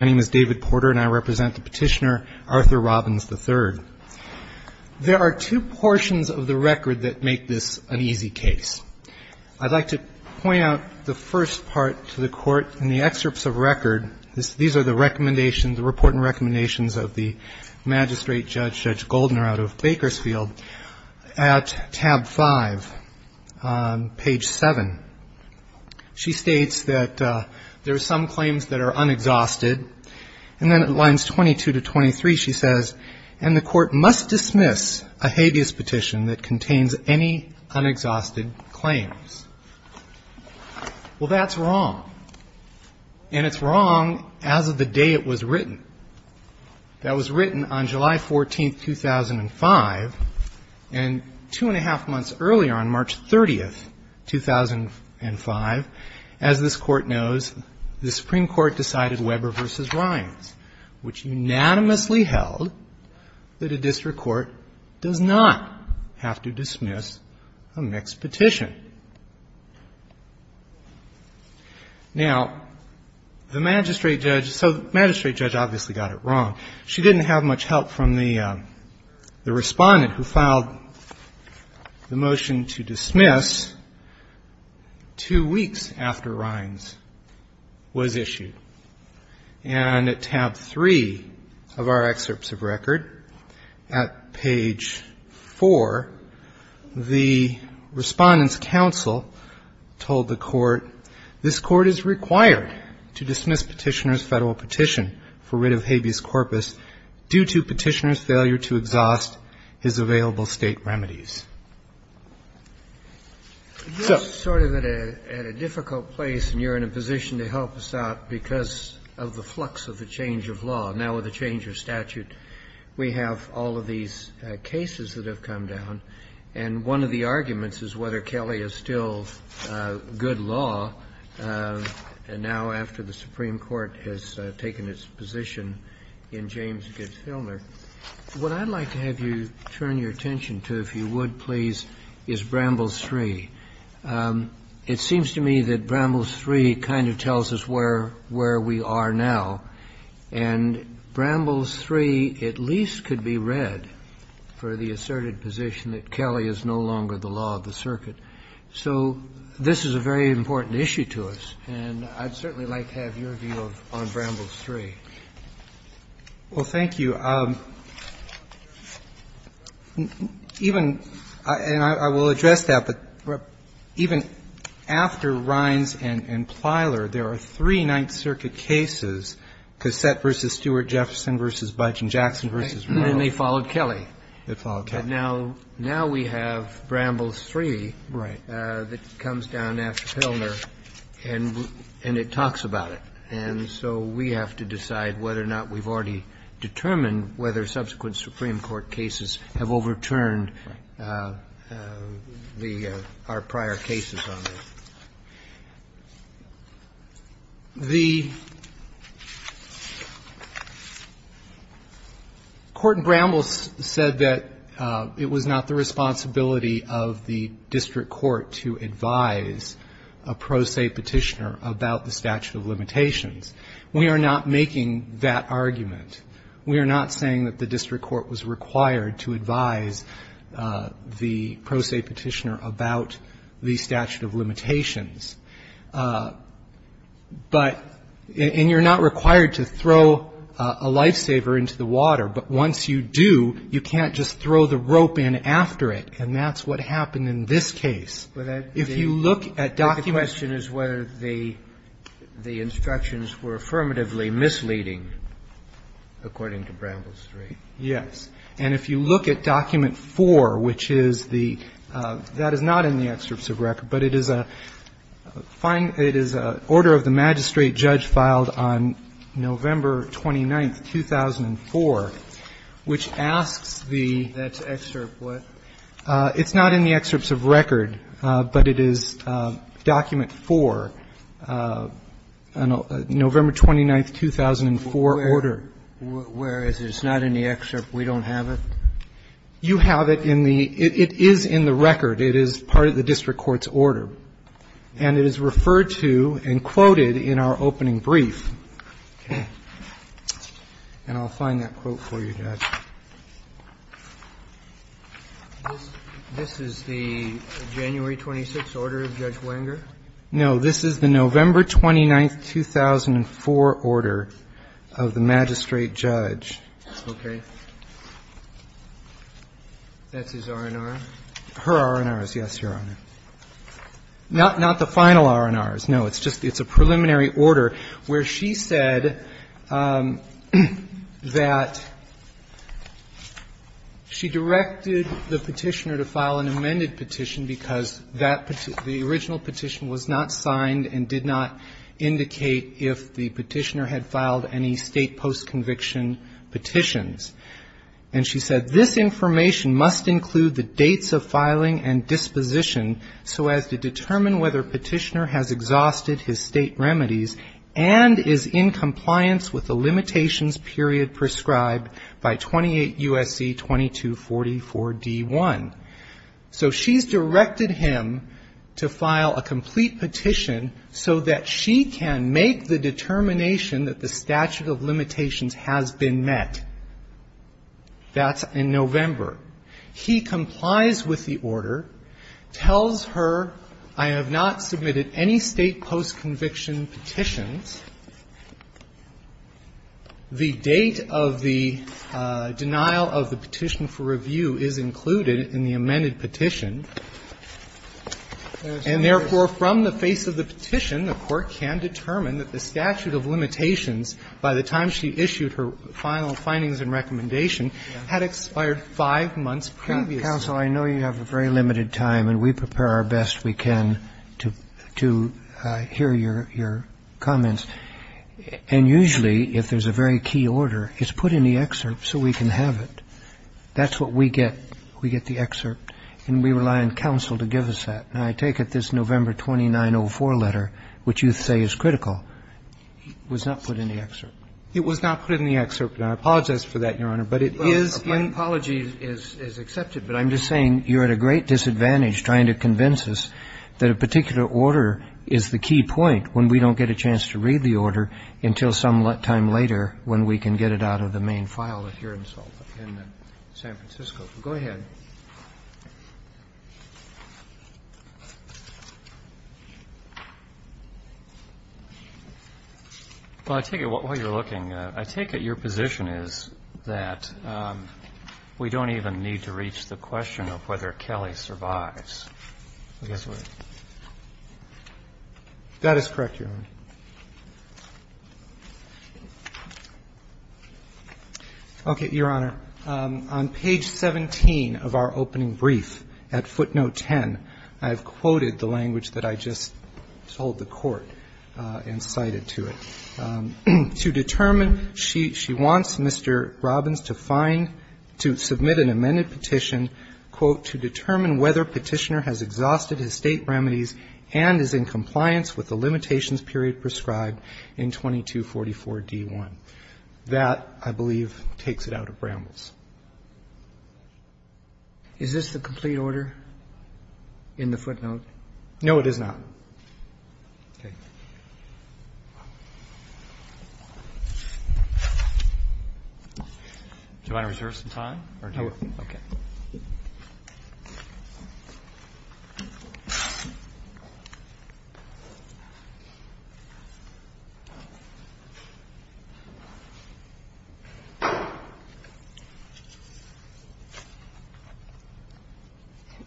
My name is David Porter, and I represent the petitioner, Arthur Robbins III. There are two portions of the record that make this an easy case. I'd like to point out the first part to the court in the excerpts of record. These are the recommendations, the report and recommendations of the magistrate judge, Judge Goldner, out of Bakersfield. At tab 5, page 7, she states that there are some claims that are unexhausted. And then at lines 22 to 23, she says, and the court must dismiss a habeas petition that contains any unexhausted claims. Well, that's wrong. And it's wrong as of the day it was written. That was written on July 14, 2005, and two and a half months earlier, on March 30, 2005, as this Court knows, the Supreme Court decided Weber v. Rines, which unanimously held that a district court does not have to dismiss a mixed petition. Now, the magistrate judge, so the magistrate judge obviously got it wrong. She didn't have much help from the respondent who filed the motion to dismiss two weeks after Rines was issued. And at tab 3 of our excerpts of record, at page 4, the Respondent's Counsel told the Court, this Court is required to dismiss petitioner's federal petition for writ of habeas corpus due to petitioner's failure to exhaust his available state remedies. So... Kennedy. You're sort of at a difficult place, and you're in a position to help us out because of the flux of the change of law. Now, with the change of statute, we have all of these cases that have come down, and one of the arguments is whether Kelly is still good law now after the Supreme Court has taken its position in James Gibbs-Hillner. What I'd like to have you turn your attention to, if you would, please, is Bramble's 3. It seems to me that Bramble's 3 kind of tells us where we are now. And Bramble's 3 at least could be read for the asserted position that Kelly is no longer the law of the circuit. So this is a very important issue to us, and I'd certainly like to have your view on Bramble's 3. Well, thank you. Even and I will address that, but even after Rines and Plyler, there are three Ninth Circuit cases, Cassette v. Stewart, Jefferson v. Budge and Jackson v. Reynolds. And they followed Kelly. They followed Kelly. But now we have Bramble's 3 that comes down after Hillner, and it talks about it. And so we have to decide whether or not we've already determined whether subsequent Supreme Court cases have overturned our prior cases on this. The Court in Bramble's said that it was not the responsibility of the district court to advise a pro se petitioner about the statute of limitations. We are not making that argument. We are not saying that the district court was required to advise the pro se petitioner about the statute of limitations. But, and you're not required to throw a lifesaver into the water, but once you do, you can't just throw the rope in after it. And that's what happened in this case. If you look at document 4, which is the, that is not in the excerpts of record, but it is a, it is an order of the magistrate judge filed on November 29, 2004, which asks the, it's not in the excerpts of record, but it is document 4, November 29, 2004, order. Where is it? It's not in the excerpt? We don't have it? You have it in the, it is in the record. It is part of the district court's order. And it is referred to and quoted in our opening brief. Okay. And I'll find that quote for you, Judge. This is the January 26 order of Judge Wenger? No. This is the November 29, 2004 order of the magistrate judge. Okay. That's his R&R? Her R&R is, yes, Your Honor. Not, not the final R&Rs. No, it's just, it's a preliminary order where she said that she directed the petitioner to file an amended petition because that, the original petition was not signed and did not indicate if the petitioner had filed any state post-conviction petitions. And she said, this information must include the dates of filing and disposition so as to determine whether petitioner has exhausted his state remedies and is in compliance with the limitations period prescribed by 28 U.S.C. 2244-D1. So she's directed him to file a complete petition so that she can make the determination that the statute of limitations has been met. That's in November. He complies with the order, tells her, I have not submitted any state post-conviction petitions. The date of the denial of the petition for review is included in the amended petition. And therefore, from the face of the petition, the court can determine that the statute of limitations, by the time she issued her final findings and recommendation, had expired five months previously. Counsel, I know you have a very limited time, and we prepare our best we can to hear your comments. And usually, if there's a very key order, it's put in the excerpt so we can have it. That's what we get. We get the excerpt, and we rely on counsel to give us that. And I take it this November 2904 letter, which you say is critical, was not put in the excerpt? It was not put in the excerpt, and I apologize for that, Your Honor. But it is in the excerpt. My apology is accepted, but I'm just saying you're at a great disadvantage trying to convince us that a particular order is the key point when we don't get a chance to read the order until some time later when we can get it out of the main file, if you're in San Francisco. Go ahead. Well, I take it while you're looking, I take it your position is that we don't even need to reach the question of whether Kelly survives. That is correct, Your Honor. Okay, Your Honor. On page 17 of our opening brief at footnote 10, I've quoted the language that I just told the Court and cited to it. To determine, she wants Mr. Robbins to find, to submit an amended petition, quote, to determine whether Petitioner has exhausted his state remedies and is in compliance with the limitations period prescribed in 2244D1. That, I believe, takes it out of Bramble's. Is this the complete order in the footnote? No, it is not.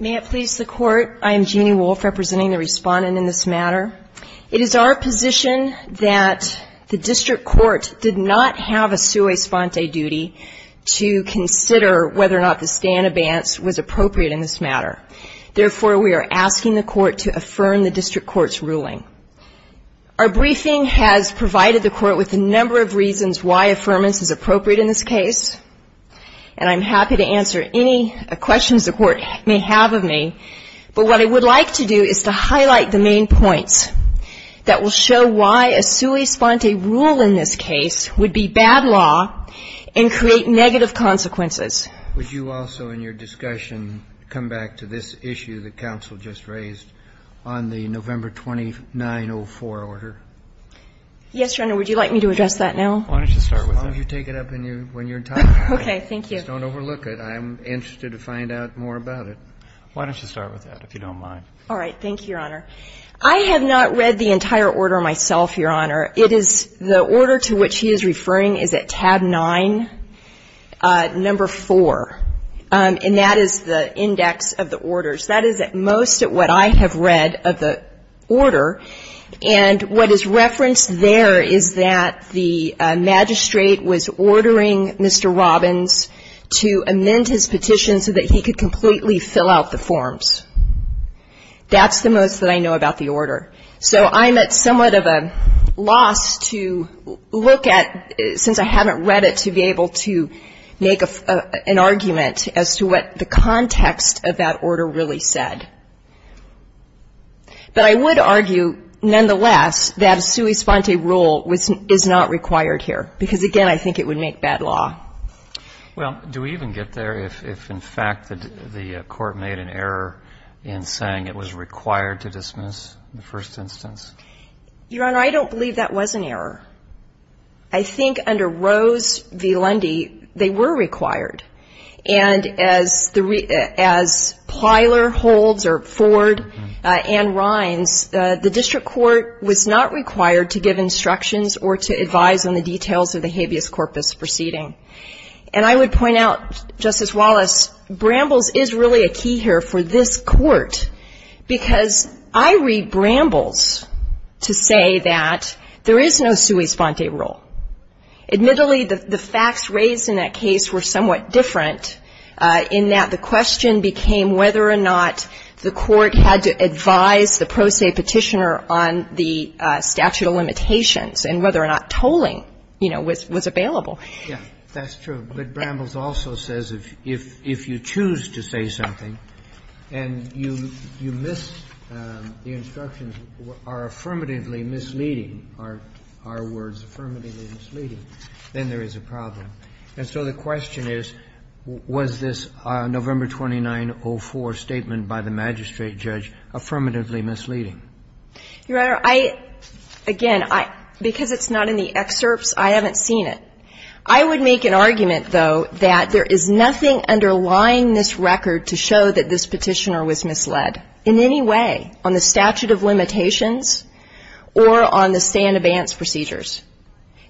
May it please the Court, I am Jeannie Wolfe representing the respondent in this matter. It is our position that the District Court did not have a sua sponte duty to consider whether or not the stay in advance was appropriate in this matter. Therefore, we are asking the Court to affirm the District Court's ruling. Our briefing has provided the Court with a number of reasons why affirmance is appropriate in this case, and I'm happy to answer any questions the Court may have of me, but what I would like to do is to highlight the main points that will show why a sua sponte rule in this case would be bad law and create negative consequences. Would you also in your discussion come back to this issue that counsel just raised on the November 2904 order? Yes, Your Honor. Would you like me to address that now? Why don't you start with that? As long as you take it up when you're done. Okay. Thank you. Just don't overlook it. I'm interested to find out more about it. Why don't you start with that, if you don't mind. All right. Thank you, Your Honor. I have not read the entire order myself, Your Honor. It is the order to which he is referring is at tab 9, number 4, and that is the index of the orders. That is at most what I have read of the order, and what is referenced there is that the magistrate was ordering Mr. Robbins to amend his petition so that he could completely fill out the forms. That's the most that I know about the order. So I'm at somewhat of a loss to look at, since I haven't read it, to be able to make an argument as to what the context of that order really said. But I would argue, nonetheless, that a sui sponte rule is not required here, because, again, I think it would make bad law. Well, do we even get there if, in fact, the court made an error in saying it was required to dismiss the first instance? Your Honor, I don't believe that was an error. I think under Rose v. Lundy, they were required. And as Plyler holds, or Ford and Rines, the district court was not required to give instructions or to advise on the details of the petition. And I would point out, Justice Wallace, Brambles is really a key here for this Court, because I read Brambles to say that there is no sui sponte rule. Admittedly, the facts raised in that case were somewhat different, in that the question became whether or not the Court had to advise the pro se petitioner on the statute of limitations, and whether or not tolling, you know, was available. Yes, that's true. But Brambles also says if you choose to say something and you miss the instructions are affirmatively misleading, are our words affirmatively misleading, then there is a problem. And so the question is, was this November 2904 statement by the magistrate judge affirmatively misleading? Your Honor, I, again, because it's not in the excerpts, I haven't seen it. I would make an argument, though, that there is nothing underlying this record to show that this petitioner was misled in any way on the statute of limitations or on the stay-in-advance procedures.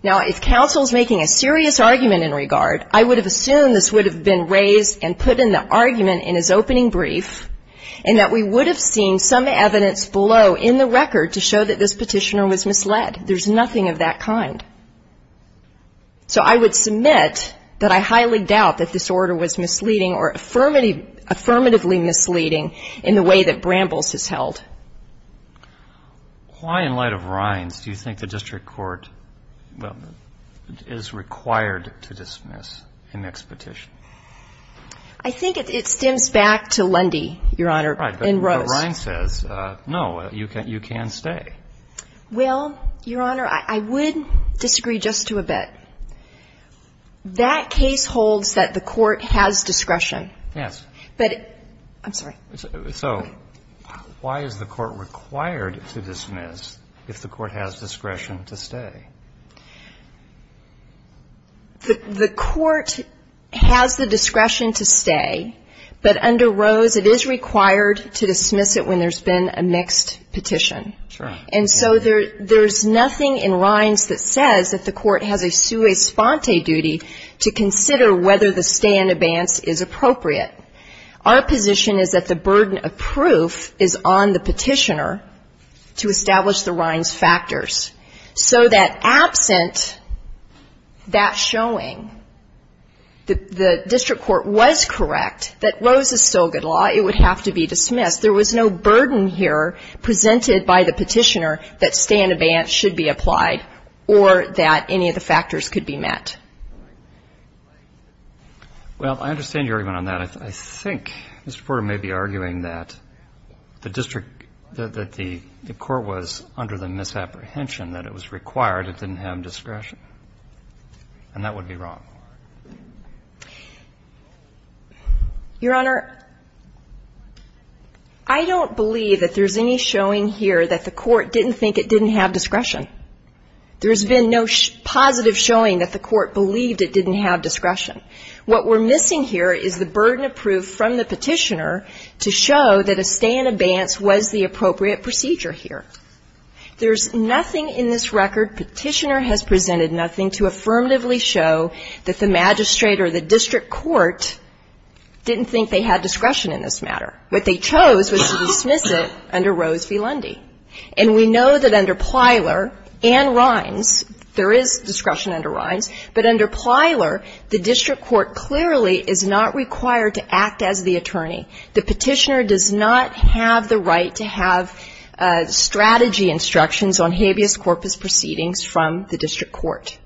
Now, if counsel is making a serious argument in regard, I would have assumed this would have been raised and put in the argument in his opening brief, and that we would have seen some evidence below in the record to show that this petitioner was misled. There's nothing of that kind. So I would submit that I highly doubt that this order was misleading or affirmatively misleading in the way that Brambles has held. Why, in light of Rines, do you think the district court is required to dismiss an expedition? I think it stems back to Lundy, Your Honor, in Rose. Right, but Rines says, no, you can stay. Well, Your Honor, I would disagree just to a bit. That case holds that the court has discretion. Yes. But, I'm sorry. So why is the court required to dismiss if the court has discretion to stay? The court has the discretion to stay, but under Rose, it is required to dismiss it when there's been a mixed petition. And so there's nothing in Rines that says that the court has a sua sponte duty to consider whether the stay in advance is appropriate. Our position is that the burden of proof is on the petitioner to establish the Rines factors. So that absent that showing, the district court was correct that Rose is still good law, it would have to be dismissed. There was no burden here presented by the petitioner that stay in advance should be applied or that any of the factors could be met. Well, I understand your argument on that. I think Mr. Porter may be arguing that the district, that the court was under the misapprehension, that it was required, it didn't have discretion. And that would be wrong. Your Honor, I don't believe that there's any showing here that the court didn't think it didn't have discretion. There's been no positive showing that the court believed it didn't have discretion. What we're missing here is the burden of proof from the petitioner to show that a stay in advance was the appropriate procedure here. There's nothing in this record, petitioner has presented nothing, to affirmatively show that the magistrate or the district court didn't think they had discretion in this matter. What they chose was to dismiss it under Rose v. Lundy. And we know that under Plyler and Rines, there is discretion under Rines, but under Plyler, the district court clearly is not required to act as the attorney. The petitioner does not have the right to have strategy instructions on habeas corpus proceedings from the district court.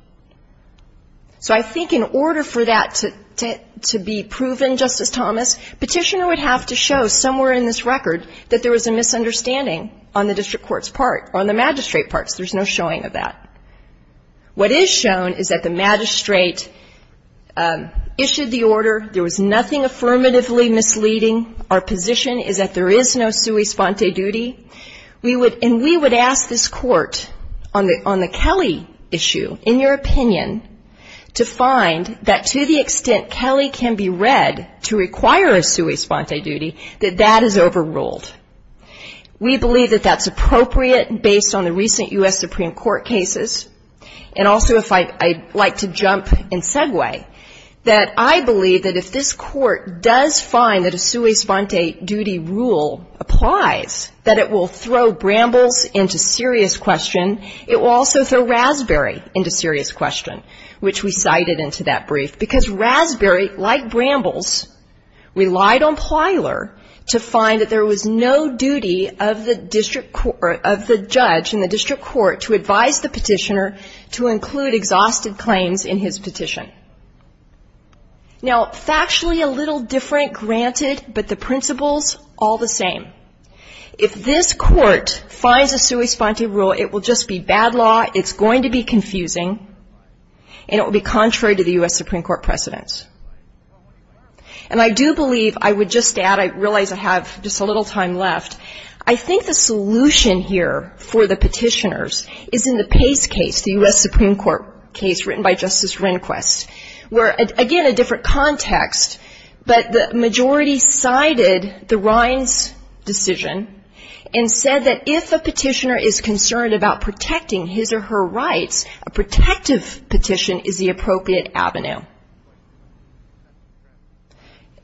So I think in order for that to be proven, Justice Thomas, petitioner would have to show somewhere in this record that there was a misunderstanding on the district court's part, on the magistrate's part. There's no showing of that. What is shown is that the magistrate issued the order, there was nothing affirmatively misleading, there was no discretion. Our position is that there is no sui sponte duty, and we would ask this court on the Kelley issue, in your opinion, to find that to the extent Kelley can be read to require a sui sponte duty, that that is overruled. We believe that that's appropriate based on the recent U.S. Supreme Court cases, and also if I'd like to jump and segue, that I believe that if this sui sponte duty rule applies, that it will throw Brambles into serious question, it will also throw Raspberry into serious question, which we cited into that brief, because Raspberry, like Brambles, relied on Plyler to find that there was no duty of the district court, of the judge in the district court to advise the petitioner to include exhausted claims in his petition. Now, factually a little different, granted, but the principles all the same. If this court finds a sui sponte rule, it will just be bad law, it's going to be confusing, and it will be contrary to the U.S. Supreme Court precedence. And I do believe, I would just add, I realize I have just a little time left, I think the solution here for the petitioners is in the Pace case, the U.S. Supreme Court case written by Justice Rehnquist, where, again, a different context, but the majority cited the Rines decision and said that if a petitioner is concerned about protecting his or her rights, a protective petition is the appropriate avenue.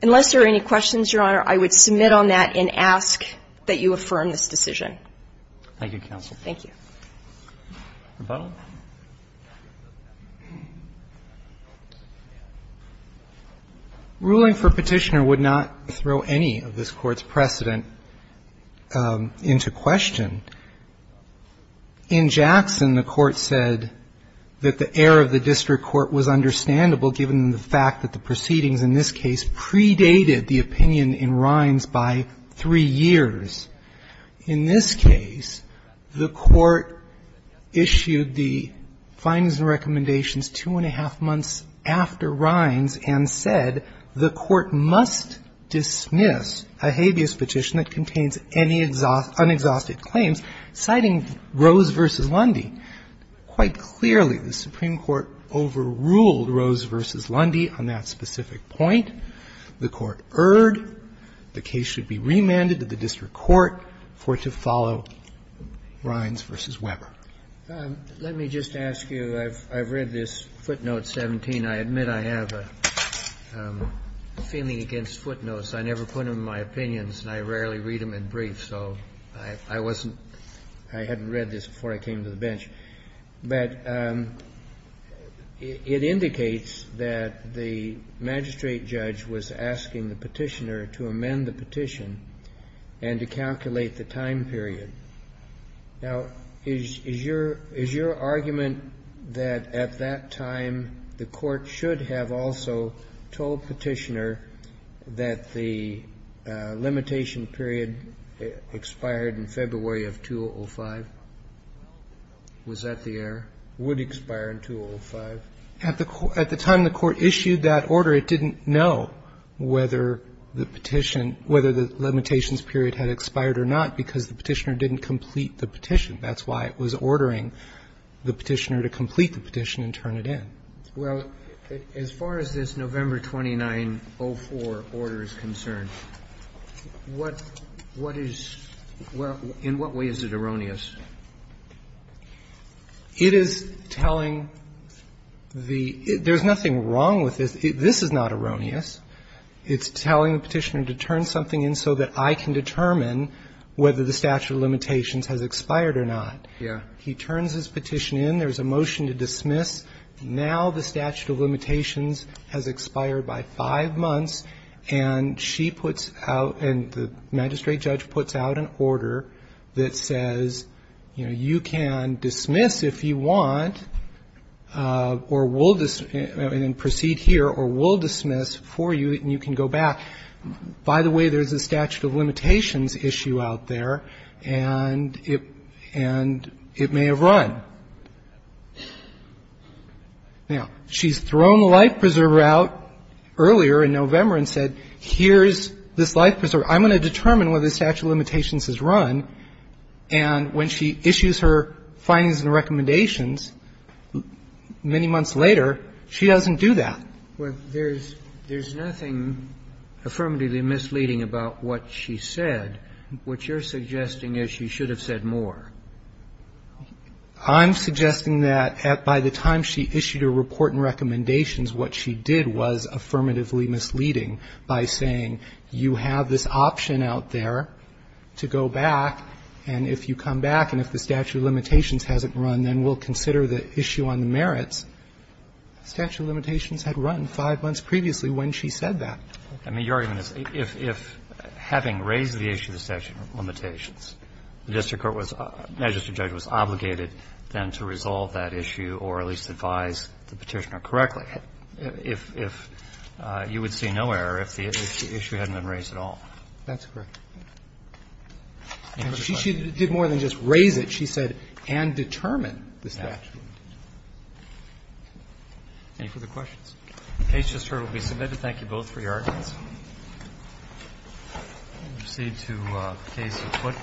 Unless there are any questions, Your Honor, I would submit on that and ask that you affirm this decision. Thank you, counsel. Thank you. Rebuttal? Ruling for petitioner would not throw any of this Court's precedent into question. In Jackson, the Court said that the error of the district court was understandable, given the fact that the proceedings in this case predated the opinion in Rines by three years. In this case, the Court issued the findings and recommendations two and a half months after Rines and said the Court must dismiss a petitioner. And in this case, the Court said that the case should be remanded to the district court for it to follow Rines v. Weber. Let me just ask you, I've read this footnote 17. I admit I have a feeling against footnotes. I never put them in my opinions and I rarely read them in briefs, so I wasn't – I hadn't read this before I came to the bench. But it indicates that the magistrate judge was asking the petitioner to amend the petition and to calculate the time period. Now, is your argument that at that time the Court should have also told petitioner that the limitation period expired in February of 2005? Was that the error? Would expire in 2005? At the time the Court issued that order, it didn't know whether the petition – whether the limitations period had expired or not, because the petitioner didn't complete the petition. That's why it was ordering the petitioner to complete the petition and turn it in. Well, as far as this November 2904 order is concerned, what is – in what way is it erroneous? It is telling the – there's nothing wrong with this. This is not erroneous. It's telling the petitioner to turn something in so that I can determine whether the statute of limitations has expired or not. He turns his petition in, there's a motion to dismiss, now the statute of limitations has expired by five months, and she puts out – and the magistrate judge puts out an order that says, you know, you can dismiss if you want, or we'll – and then proceed here, or we'll dismiss for you, and you can go back. By the way, there's a statute of limitations issue out there, and it – and it may have run. Now, she's thrown the life preserver out earlier in November and said, here's this life preserver. I'm going to determine whether the statute of limitations has run, and when she issues her findings and recommendations, many months later, she doesn't do that. Well, there's – there's nothing affirmatively misleading about what she said. What you're suggesting is she should have said more. I'm suggesting that at – by the time she issued her report and recommendations, what she did was affirmatively misleading by saying, you have this option out there to go back, and if you come back and if the statute of limitations hasn't run, then we'll consider the issue on the merits. The statute of limitations had run five months previously when she said that. I mean, your argument is, if – if having raised the issue of the statute of limitations, the district court was – magistrate judge was obligated then to resolve that issue or at least advise the Petitioner correctly, if – if you would see no error if the issue hadn't been raised at all. That's correct. And she did more than just raise it. She said, and determine the statute. Any further questions? The case just heard will be submitted. Thank you both for your arguments. We'll proceed to case report.